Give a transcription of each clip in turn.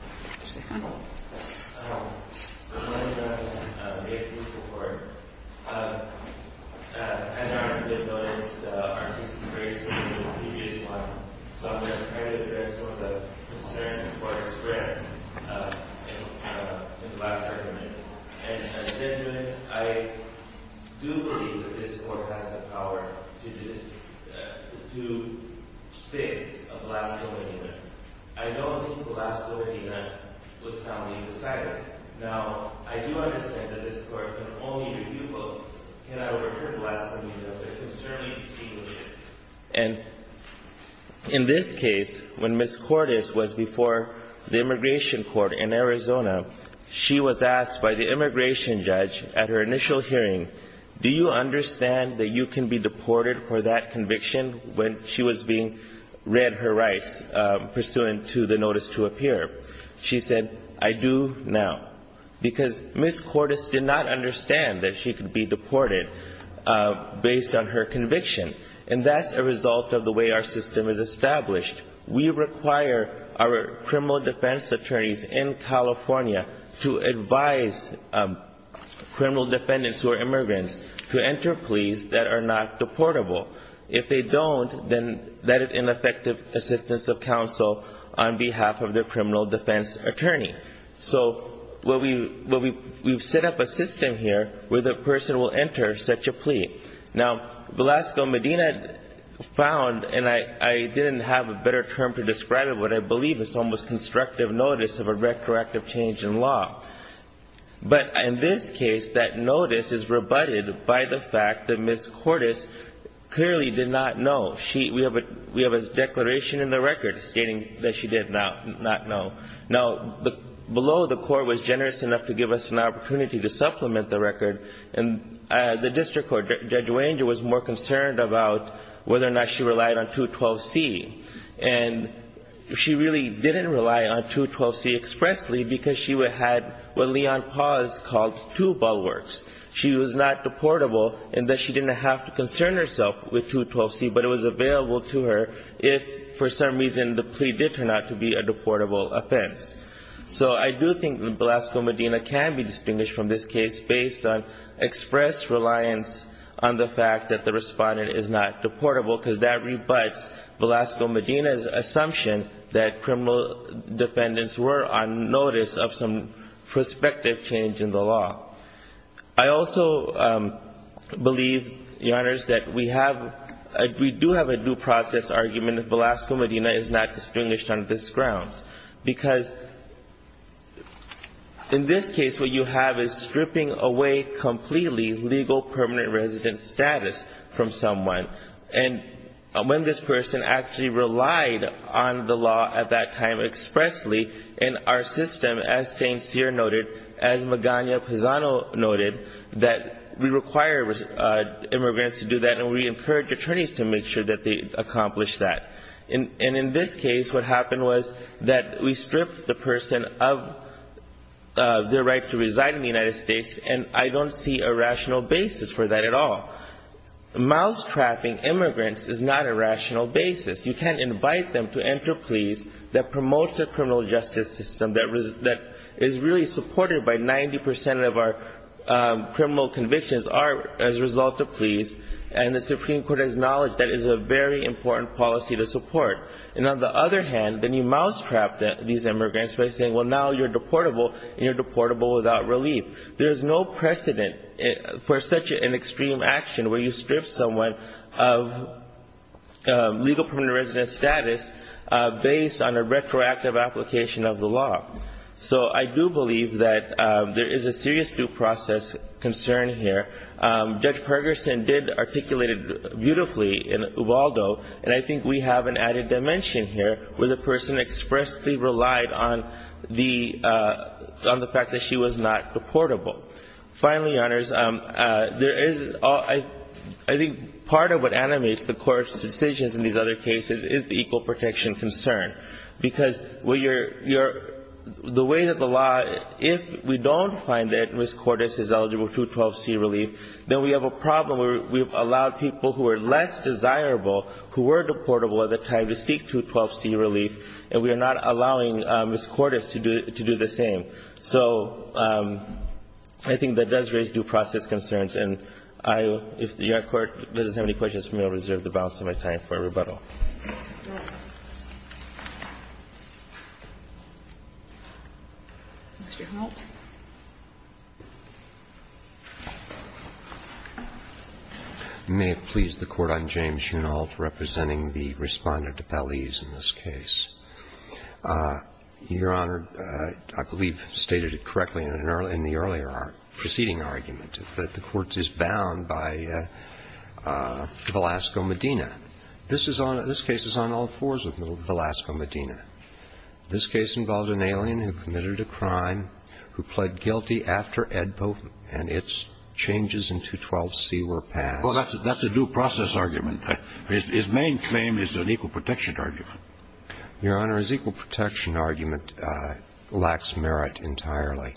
I'm going to address some of the concerns that were expressed in the last argument. In judgment, I do believe that this Court has the power to fix a blasphemy. I don't think blasphemy was found in the silence. Now, I do understand that this Court can only review books, cannot overhear blasphemy, but it can certainly distinguish it. And in this case, when Ms. Cortes was before the immigration court in Arizona, she was asked by the immigration judge at her initial hearing, do you understand that you can be deported for that conviction when she was being read her rights pursuant to the notice to appear? She said, I do now. Because Ms. Cortes did not understand that she could be deported based on her conviction. And that's a result of the way our system is established. We require our criminal defense attorneys in California to advise criminal defendants who are immigrants to enter pleas that are not deportable. If they don't, then that is ineffective assistance of counsel on behalf of their criminal defense attorney. So we've set up a system here where the person will enter such a plea. Now, Velasco Medina found, and I didn't have a better term to describe it, what I believe is almost constructive notice of a retroactive change in law. But in this case, that notice is rebutted by the fact that Ms. Cortes clearly did not know. We have a declaration in the record stating that she did not know. Now, below the court was generous enough to give us an opportunity to supplement the record. And the district court, Judge Wanger, was more concerned about whether or not she relied on 212C. And she really didn't rely on 212C expressly because she had what Leon Paz called two bulwarks. She was not deportable in that she didn't have to concern herself with 212C. But it was available to her if, for some reason, the plea did turn out to be a deportable offense. So I do think that Velasco Medina can be distinguished from this case based on express reliance on the fact that the respondent is not deportable because that rebuts Velasco Medina's assumption that criminal defendants were on notice of some prospective change in the law. I also believe, Your Honors, that we do have a due process argument if Velasco Medina is not distinguished on this grounds. Because in this case, what you have is stripping away completely legal permanent resident status from someone. And when this person actually relied on the law at that time expressly in our system, as St. Cyr noted, as Magana Pizano noted, that we require immigrants to do that and we encourage attorneys to make sure that they accomplish that. And in this case, what happened was that we stripped the person of their right to reside in the United States. And I don't see a rational basis for that at all. Mousetrapping immigrants is not a rational basis. You can't invite them to enter pleas that promotes a criminal justice system that is really supported by 90 percent of our criminal convictions as a result of pleas and the Supreme Court has acknowledged that is a very important policy to support. And on the other hand, then you mousetrap these immigrants by saying, well, now you're deportable and you're deportable without relief. There's no precedent for such an extreme action where you strip someone of legal permanent resident status based on a retroactive application of the law. So I do believe that there is a serious due process concern here. Judge Pergerson did articulate it beautifully in Ubaldo, and I think we have an added dimension here where the person expressly relied on the fact that she was not deportable. Finally, Your Honors, there is, I think part of what animates the Court's decisions in these other cases is the equal protection concern. Because the way that the law, if we don't find that Ms. Cordes is eligible for 212C relief, then we have a problem where we've allowed people who are less desirable, who were deportable at the time, to seek 212C relief, and we are not allowing Ms. Cordes to do the same. So I think that does raise due process concerns. And I, if the U.S. Court doesn't have any questions for me, I'll reserve the balance of my time for rebuttal. Ms. Schoonholt. May it please the Court. I'm James Schoonholt, representing the Respondent of Belize in this case. Your Honor, I believe stated it correctly in the earlier proceeding argument, that the Court is bound by Velasco-Medina. This case is on all fours of Velasco-Medina. This case involved an alien who committed a crime, who pled guilty after Edpo and its changes in 212C were passed. Well, that's a due process argument. His main claim is an equal protection argument. Your Honor, his equal protection argument lacks merit entirely.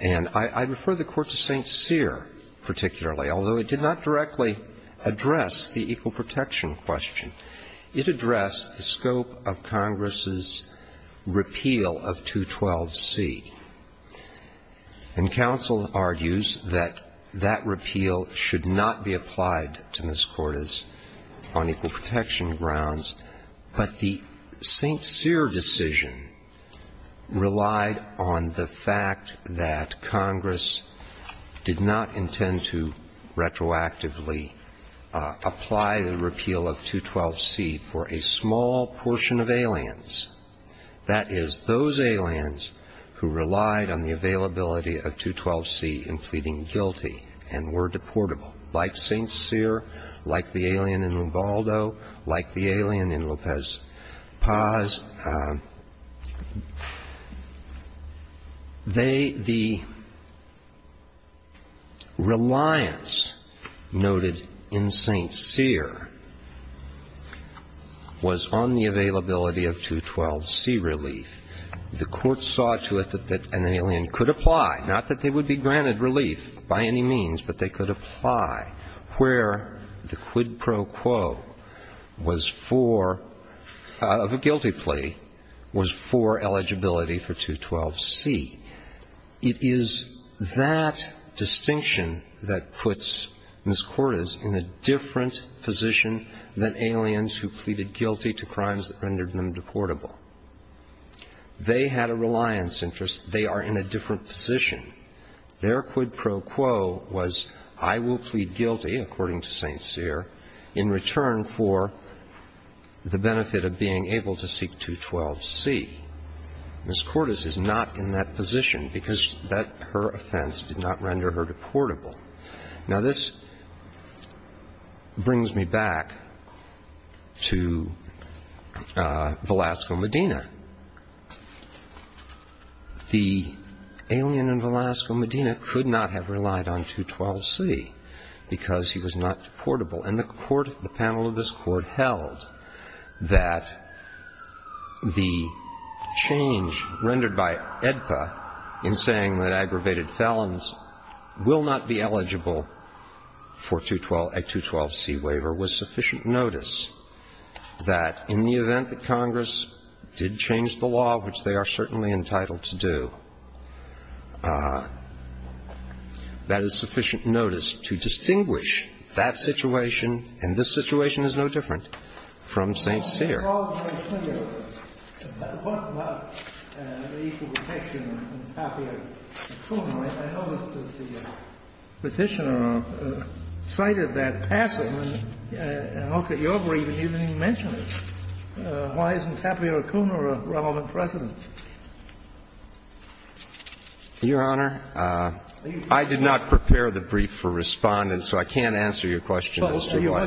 And I refer the Court to St. Cyr particularly, although it did not directly address the equal protection question. It addressed the scope of Congress's repeal of 212C. And counsel argues that that repeal should not be applied to Ms. Cordes on equal protection grounds. But the St. Cyr decision relied on the fact that Congress did not intend to retroactively apply the repeal of 212C for a small portion of aliens, that is, those aliens who relied on the availability of 212C in pleading guilty and were deportable, like St. Cyr, like the alien in Ubaldo, like the alien in Lopez Paz. They, the reliance noted in St. Cyr was on the availability of 212C relief. The Court saw to it that an alien could apply, not that they would be granted relief by any means, but they could apply, where the quid pro quo was for, of a guilty plea, was for eligibility for 212C. It is that distinction that puts Ms. Cordes in a different position than aliens who pleaded guilty to crimes that rendered them deportable. They had a reliance interest. They are in a different position. Their quid pro quo was I will plead guilty, according to St. Cyr, in return for the benefit of being able to seek 212C. Ms. Cordes is not in that position because that, her offense, did not render her deportable. Now, this brings me back to Velasco, Medina. The alien in Velasco, Medina, could not have relied on 212C because he was not deportable. And the panel of this Court held that the change rendered by AEDPA in saying that aggravated felons will not be eligible for a 212C waiver was sufficient notice, that in the event that Congress did change the law, which they are certainly entitled to do, that is sufficient notice to distinguish that situation, and this situation is no different, from St. Cyr. Your Honor, I did not prepare the brief for Respondent, so I can't answer your question as to why.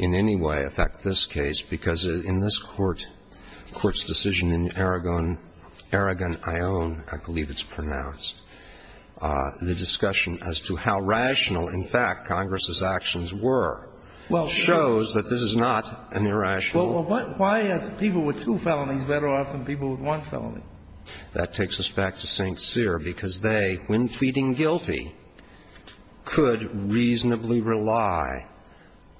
In any way affect this case, because in this Court's decision in Aragon Ione, I believe it's pronounced, the discussion as to how rational, in fact, Congress's actions were, shows that this is not an irrational. Well, why are people with two felonies better off than people with one felony? That takes us back to St. Cyr, because they, when pleading guilty, could reasonably rely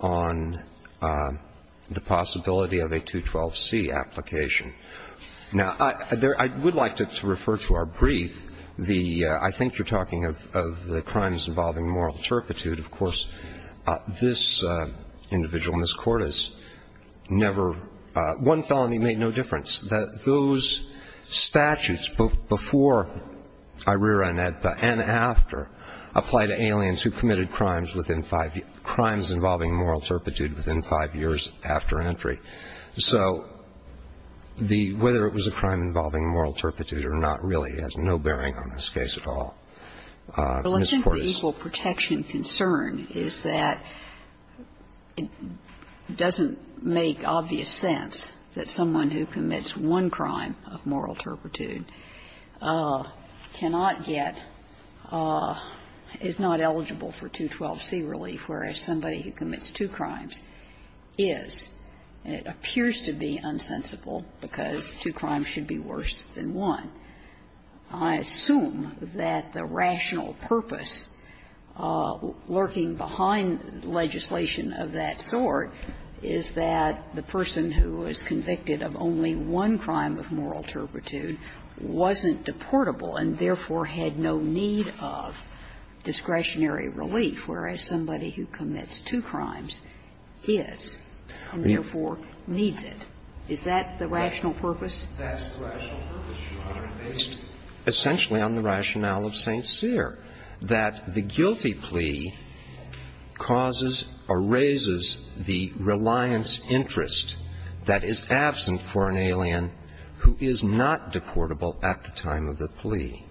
on the possibility of a 212C application. Now, I would like to refer to our brief. The – I think you're talking of the crimes involving moral turpitude. Of course, this individual, Ms. Cordes, never – one felony made no difference. Those statutes, both before IRERA and AEDPA and after, apply to aliens who committed crimes involving moral turpitude within 5 years after entry. So the – whether it was a crime involving moral turpitude or not really has no bearing on this case at all. Ms. Cordes. The legitimate equal protection concern is that it doesn't make obvious sense that someone who commits one crime of moral turpitude cannot get – is not eligible for 212C relief, whereas somebody who commits two crimes is. It appears to be unsensible because two crimes should be worse than one. I assume that the rational purpose lurking behind legislation of that sort is that the person who is convicted of only one crime of moral turpitude wasn't deportable and therefore had no need of discretionary relief, whereas somebody who commits two crimes is and therefore needs it. Is that the rational purpose? That's the rational purpose, Your Honor, based essentially on the rationale of St. Cyr, that the guilty plea causes or raises the reliance interest that is absent for an alien who is not deportable at the time of the plea.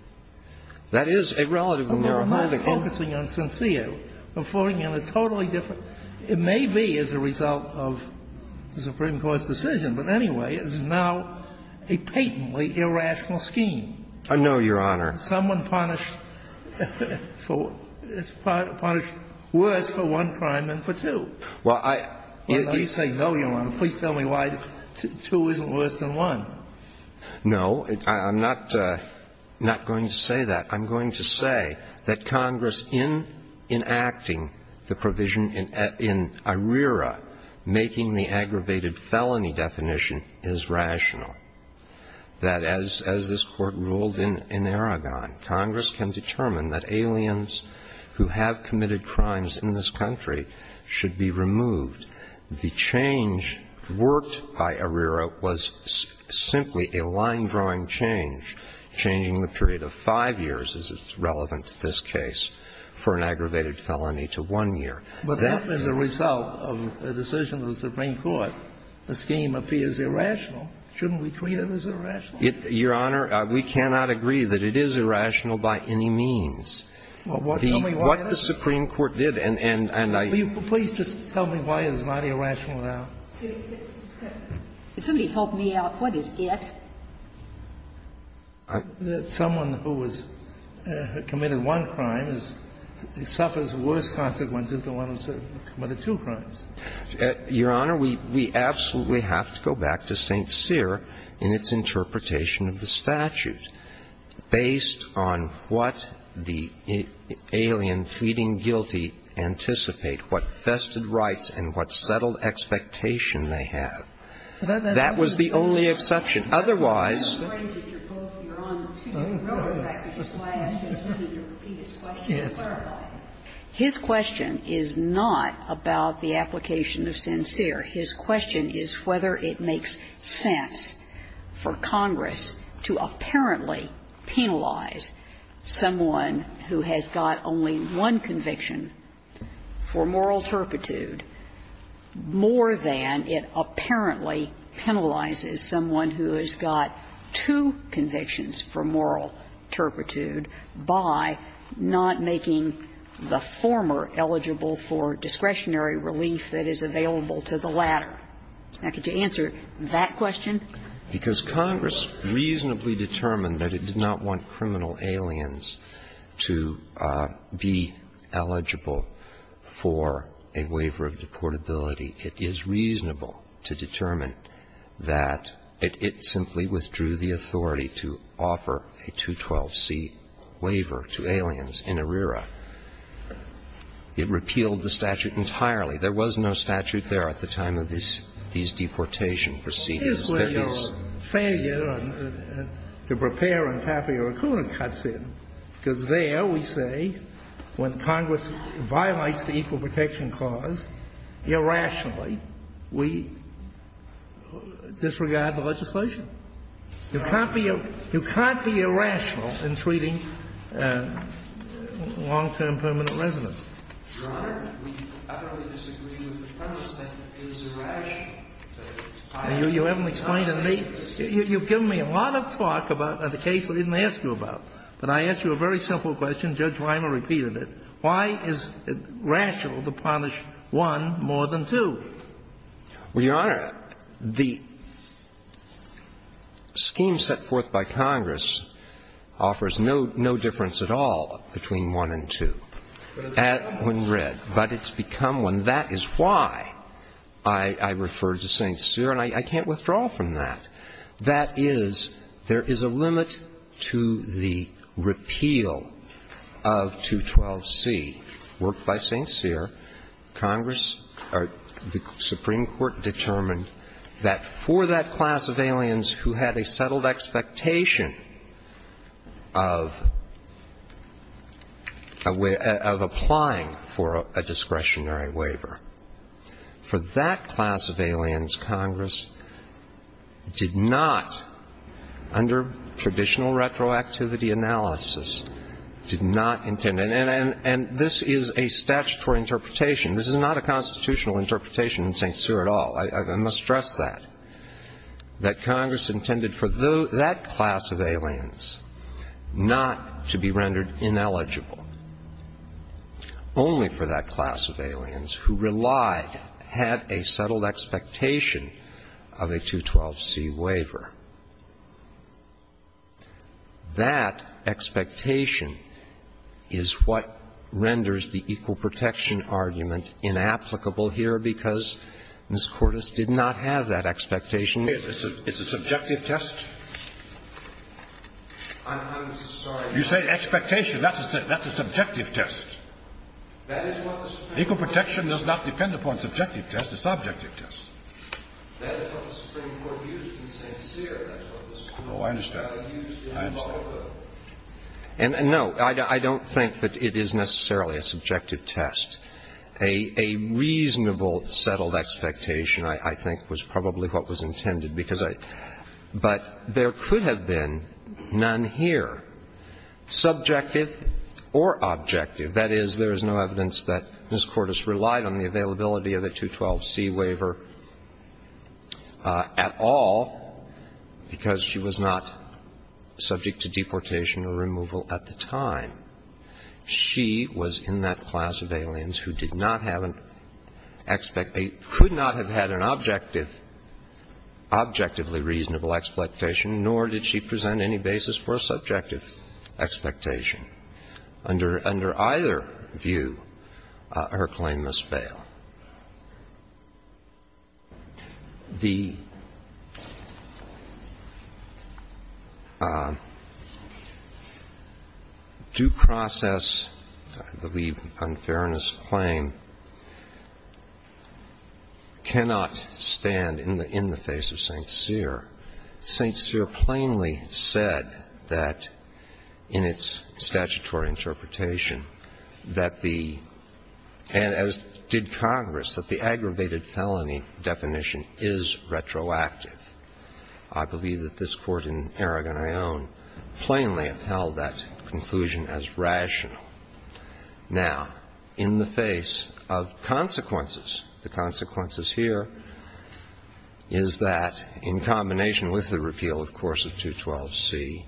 That is a relatively narrow holding case. I'm not focusing on St. Cyr. I'm focusing on a totally different – it may be as a result of the Supreme Court's decision, but anyway, it's now a patently irrational scheme. No, Your Honor. Someone punished for – punished worse for one crime than for two. Well, I – Let me say no, Your Honor. Please tell me why two isn't worse than one. No. I'm not going to say that. I'm going to say that Congress, in enacting the provision in ARERA making the aggravated felony definition, is rational. That as this Court ruled in Aragon, Congress can determine that aliens who have committed crimes in this country should be removed. The change worked by ARERA was simply a line-drawing change, changing the period of five years, as is relevant to this case, for an aggravated felony to one year. But that was a result of a decision of the Supreme Court. The scheme appears irrational. Shouldn't we treat it as irrational? Your Honor, we cannot agree that it is irrational by any means. What the Supreme Court did, and I – Please just tell me why it's not irrational now. Somebody help me out. What is it? That someone who has committed one crime suffers worse consequences than one who has committed two crimes. Your Honor, we absolutely have to go back to St. Cyr in its interpretation of the statute, based on what the alien pleading guilty anticipate, what vested rights and what settled expectation they have. That was the only exception. Otherwise – No, no, no. Yes. His question is not about the application of St. Cyr. His question is whether it makes sense for Congress to apparently penalize someone who has got only one conviction for moral turpitude more than it apparently penalizes someone who has got two convictions for moral turpitude by not making the former eligible for discretionary relief that is available to the latter. Now, could you answer that question? Because Congress reasonably determined that it did not want criminal aliens to be eligible for a waiver of deportability. It is reasonable to determine that it simply withdrew the authority to offer a 212C waiver to aliens in ARERA. It repealed the statute entirely. There was no statute there at the time of these deportation proceedings. That is where your failure to prepare on Tapio Akuna cuts in, because there we say when Congress violates the Equal Protection Clause, irrationally, we disregard the legislation. You can't be – you can't be irrational in treating long-term permanent residents. Your Honor, we utterly disagree with the premise that it is irrational. You haven't explained it to me. You've given me a lot of talk about the case that I didn't ask you about. But I ask you a very simple question. Judge Weimer repeated it. Why is it rational to punish one more than two? Well, Your Honor, the scheme set forth by Congress offers no difference at all between one and two when read. But it's become one. That is why I referred to St. Cyr, and I can't withdraw from that. That is, there is a limit to the repeal of 212C. Worked by St. Cyr, Congress or the Supreme Court determined that for that class of aliens who had a settled expectation of applying for a discretionary waiver, for that class of aliens, Congress did not, under traditional retroactivity analysis, did not intend – and this is a statutory interpretation. This is not a constitutional interpretation in St. Cyr at all. I must stress that, that Congress intended for that class of aliens not to be rendered ineligible, only for that class of aliens who relied, had a settled expectation of a 212C waiver. That expectation is what renders the equal protection argument inapplicable here because Ms. Cordes did not have that expectation. It's a subjective test? I'm sorry. You say expectation. That's a subjective test. Equal protection does not depend upon subjective tests. It's subjective tests. Oh, I understand. I understand. And, no, I don't think that it is necessarily a subjective test. A reasonable settled expectation, I think, was probably what was intended because I – but there could have been none here. Subjective or objective, that is, there is no evidence that Ms. Cordes relied on the availability of a 212C waiver at all because she was not subject to deportation or removal at the time. She was in that class of aliens who did not have an – could not have had an objective – objectively reasonable expectation, nor did she present any basis for a subjective expectation. Under either view, her claim must fail. The due process, I believe, unfairness claim cannot stand in the context of the St. Cyr. St. Cyr plainly said that in its statutory interpretation that the – and as did Congress, that the aggravated felony definition is retroactive. I believe that this Court in Aragon I own plainly upheld that conclusion as rational. Now, in the face of consequences, the consequences here is that in combination with the repeal, of course, of 212C,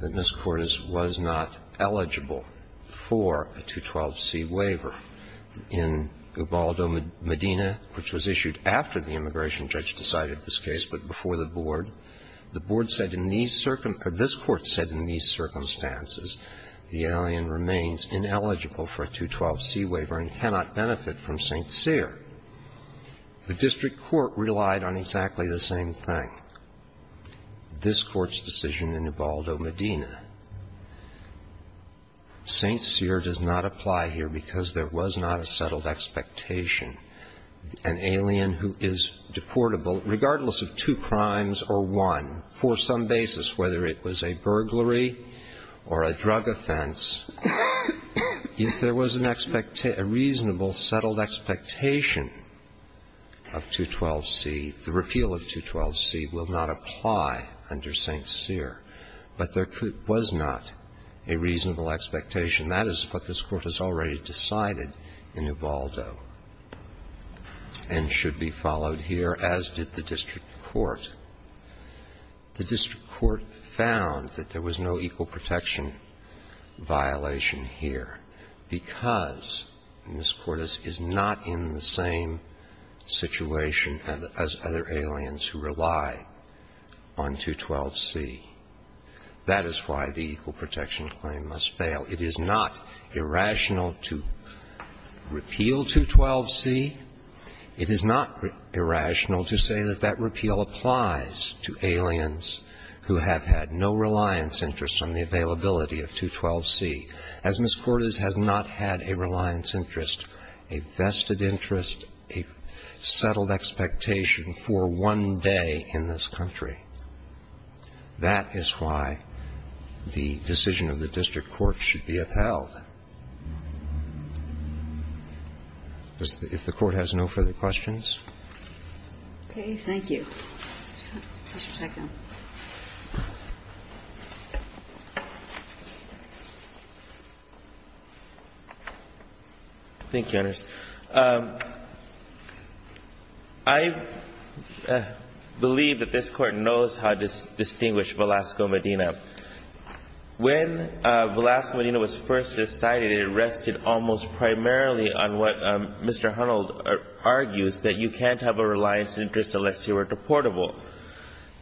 that Ms. Cordes was not eligible for a 212C waiver. In Gubaldo Medina, which was issued after the immigration judge decided this case but before the Board, the Board said in these – or this Court said in these circumstances the alien remains ineligible for a 212C waiver and cannot benefit from St. Cyr. The district court relied on exactly the same thing. This Court's decision in Gubaldo Medina, St. Cyr does not apply here because there was not a settled expectation. An alien who is deportable, regardless of two crimes or one, for some basis, whether it was a burglary or a drug offense, if there was an expectation, a reasonable settled expectation of 212C, the repeal of 212C will not apply under St. Cyr. But there was not a reasonable expectation. That is what this Court has already decided in Gubaldo and should be followed here, as did the district court. The district court found that there was no equal protection violation here because Ms. Cortes is not in the same situation as other aliens who rely on 212C. That is why the equal protection claim must fail. It is not irrational to repeal 212C. It is not irrational to say that that repeal applies to aliens who have had no reliance interest on the availability of 212C. As Ms. Cortes has not had a reliance interest, a vested interest, a settled expectation for one day in this country, that is why the decision of the district court should be upheld. If the Court has no further questions. Okay. Thank you. Mr. Sacco. Thank you, Your Honor. I believe that this Court knows how to distinguish Velasco Medina. When Velasco Medina was first decided, it rested almost primarily on what Mr. Hunnold argues, that you can't have a reliance interest unless you are deportable.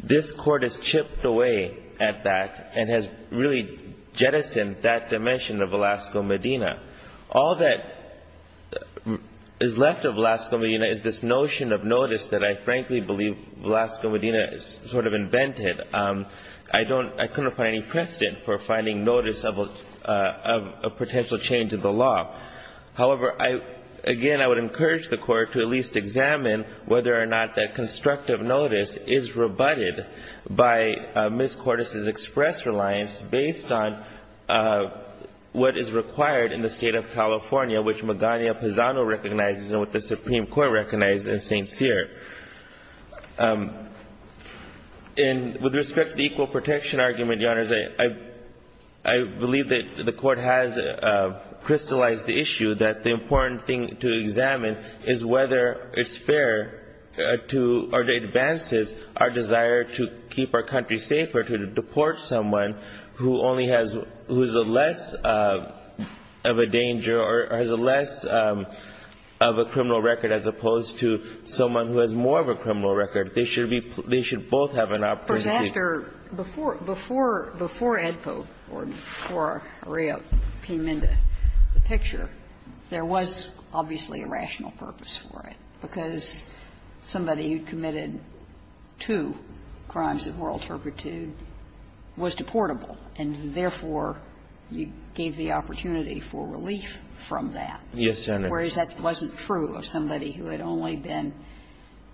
This Court has chipped away at that and has really jettisoned that dimension of Velasco Medina. All that is left of Velasco Medina is this notion of notice that I frankly believe Velasco Medina sort of invented. I couldn't find any precedent for finding notice of a potential change in the law. However, again, I would encourage the Court to at least examine whether or not that constructive notice is rebutted by Ms. Cortes' express reliance based on what is required in the State of California, which Magana Pizano recognizes and what the Supreme Court recognizes in St. Cyr. And with respect to the equal protection argument, Your Honors, I believe that the Court has crystallized the issue that the important thing to examine is whether it's fair to or advances our desire to keep our country safe or to deport someone who only has — who is less of a danger or has less of a criminal record as opposed to someone who has more of a criminal record. They should be — they should both have an opportunity. Sotomayor Before Edpo, or before Arreo came into the picture, there was obviously a rational purpose for it, because somebody who committed two crimes of moral turpitude was deportable, and therefore you gave the opportunity for relief from that. Yes, Your Honor. Whereas that wasn't true of somebody who had only been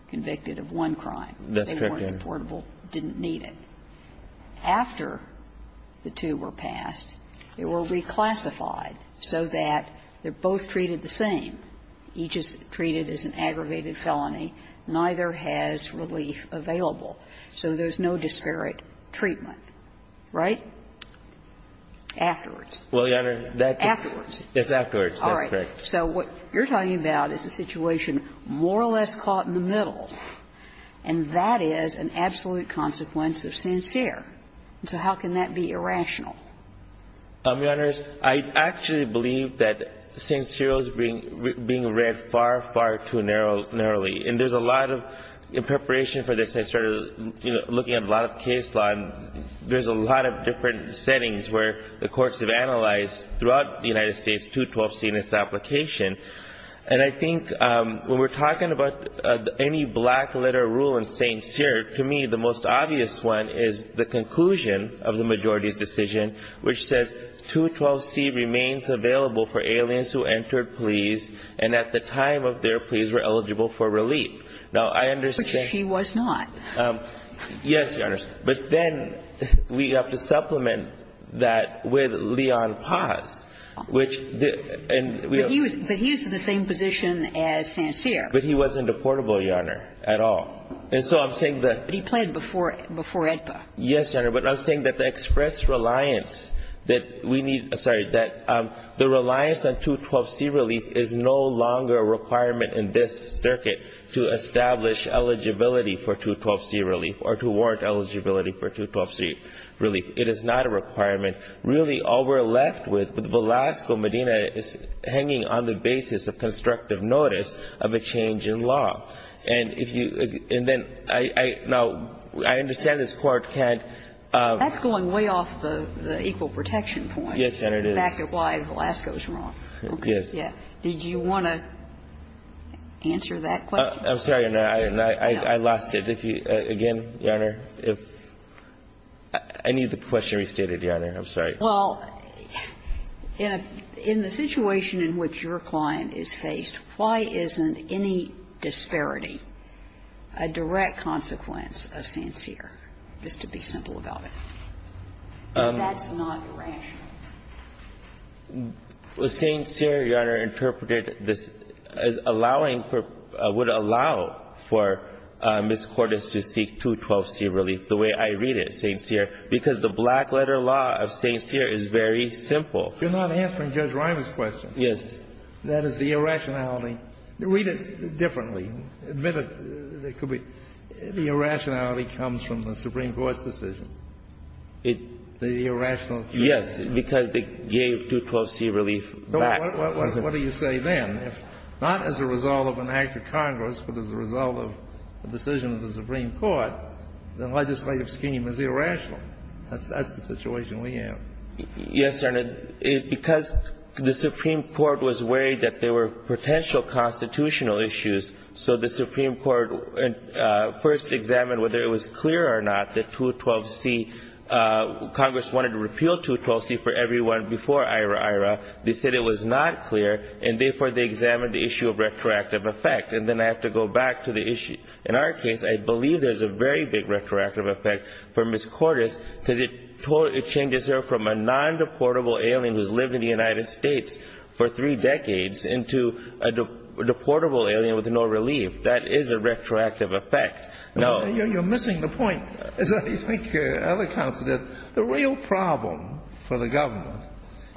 convicted of one crime. That's correct, Your Honor. They weren't deportable, didn't need it. After the two were passed, they were reclassified so that they're both treated the same. Each is treated as an aggravated felony. Neither has relief available. So there's no disparate treatment. Right? Afterwards. Well, Your Honor, that — Afterwards. Yes, afterwards. That's correct. So what you're talking about is a situation more or less caught in the middle, and that is an absolute consequence of sincere. So how can that be irrational? Your Honors, I actually believe that sincere is being read far, far too narrowly. And there's a lot of — in preparation for this, I started looking at a lot of case law, and there's a lot of different settings where the courts have analyzed throughout the United States 212C in its application. And I think when we're talking about any black-letter rule in sincere, to me the most obvious one is the conclusion of the majority's decision, which says 212C remains available for aliens who entered police and at the time of their pleas were eligible for relief. Now, I understand — Which he was not. Yes, Your Honors. But then we have to supplement that with Leon Paz, which — But he was in the same position as sincere. But he wasn't a portable, Your Honor, at all. And so I'm saying that — But he pled before EDPA. Yes, Your Honor. But I'm saying that the express reliance that we need — sorry, that the reliance on 212C relief is no longer a requirement in this circuit to establish eligibility for 212C relief or to warrant eligibility for 212C relief. It is not a requirement. Really, all we're left with, with Velasco, Medina, is hanging on the basis of constructive notice of a change in law. And if you — and then I — now, I understand this Court can't — That's going way off the equal protection point. Yes, Your Honor, it is. Back of why Velasco is wrong. Yes. Did you want to answer that question? I'm sorry, Your Honor. I lost it. Again, Your Honor, if — I need the question restated, Your Honor. I'm sorry. Well, in the situation in which your client is faced, why isn't any disparity a direct consequence of sincere, just to be simple about it? That's not rational. Well, sincere, Your Honor, interpreted this as allowing for — would allow for Ms. Cordes to seek 212C relief the way I read it, sincere, because the black-letter law of sincere is very simple. You're not answering Judge Reimer's question. Yes. That is the irrationality. Read it differently. Admit it. It could be — the irrationality comes from the Supreme Court's decision. It — The irrationality. Yes, because they gave 212C relief back. What do you say then? If not as a result of an act of Congress, but as a result of a decision of the Supreme Court, the legislative scheme is irrational. That's the situation we have. Yes, Your Honor. Because the Supreme Court was worried that there were potential constitutional issues, so the Supreme Court first examined whether it was clear or not that 212C relief. Congress wanted to repeal 212C for everyone before IRA-IRA. They said it was not clear, and therefore they examined the issue of retroactive effect. And then I have to go back to the issue. In our case, I believe there's a very big retroactive effect for Ms. Cordes because it changes her from a non-deportable alien who's lived in the United States for three decades into a deportable alien with no relief. That is a retroactive effect. No. You're missing the point. I think other counsel did. The real problem for the government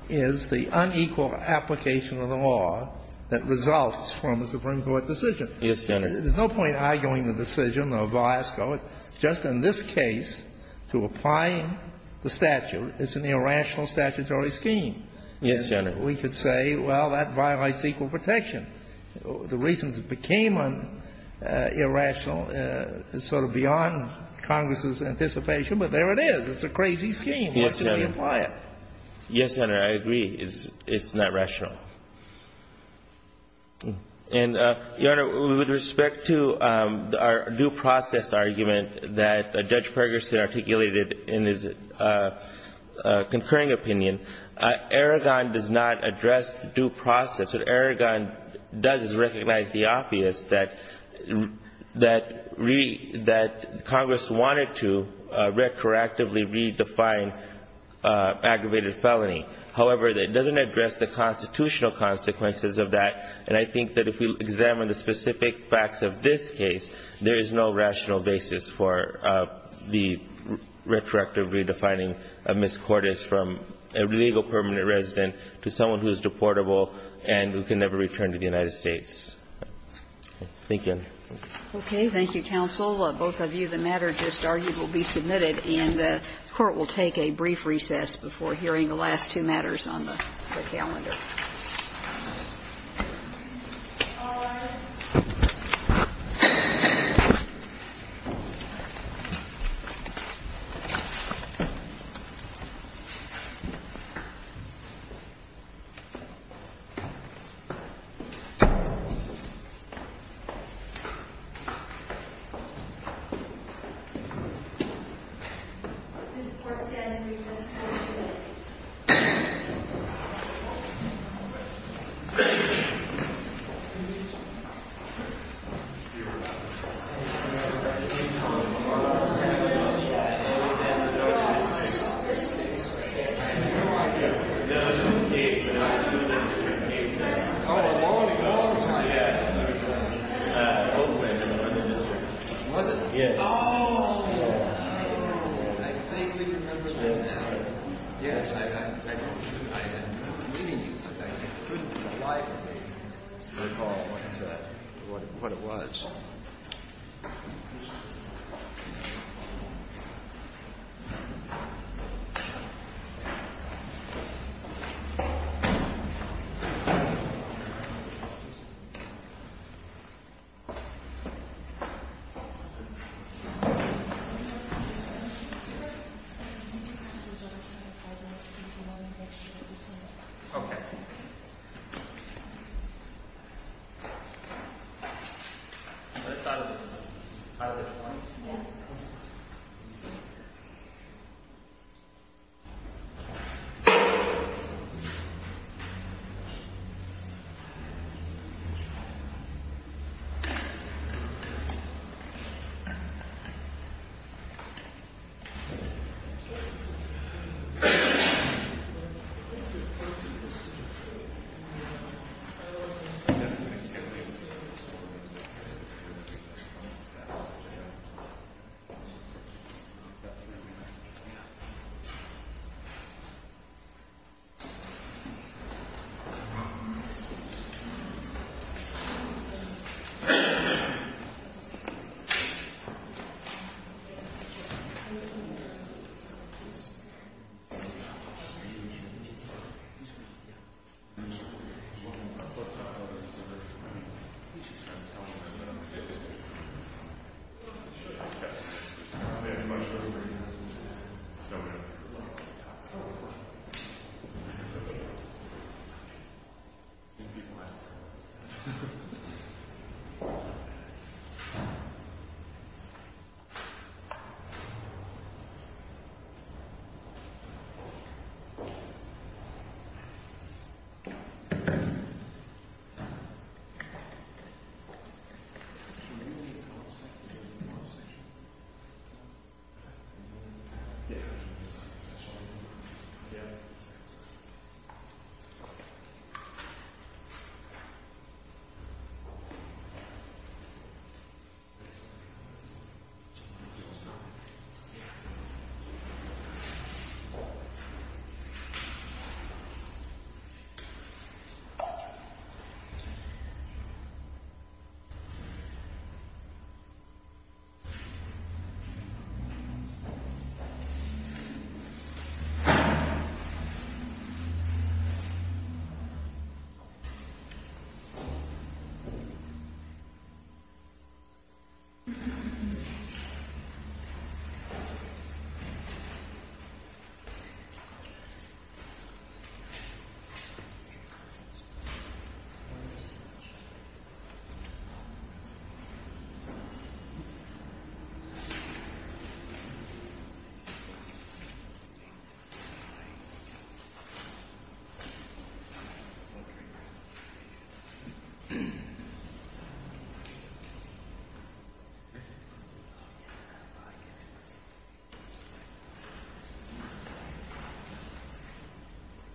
is the unequal application of the law that results from a Supreme Court decision. Yes, Your Honor. There's no point arguing the decision of Velasco. Just in this case, to apply the statute, it's an irrational statutory scheme. Yes, Your Honor. We could say, well, that violates equal protection. The reasons it became irrational is sort of beyond Congress's anticipation, but there it is. It's a crazy scheme. What should we imply it? Yes, Your Honor. I agree. It's not rational. And, Your Honor, with respect to our due process argument that Judge Ferguson articulated in his concurring opinion, Aragon does not address due process. What Aragon does is recognize the obvious, that Congress wanted to retroactively redefine aggravated felony. However, it doesn't address the constitutional consequences of that. And I think that if we examine the specific facts of this case, there is no rational basis for the retroactive redefining of misquotas from a legal permanent resident to someone who is deportable and who can never return to the United States. Thank you, Your Honor. Okay. Thank you, counsel. Both of you. The matter just argued will be submitted, and the Court will take a brief recess before hearing the last two matters on the calendar. Thank you. Thank you. All rise. to the floor. Thank you. Please. Okay. Thank you. That's out of this one. Out of this one? Yeah. Yes. Thank you. No problem. Okay. No problem. No problem. Thank you class. Thank you. Thank you. Thank you.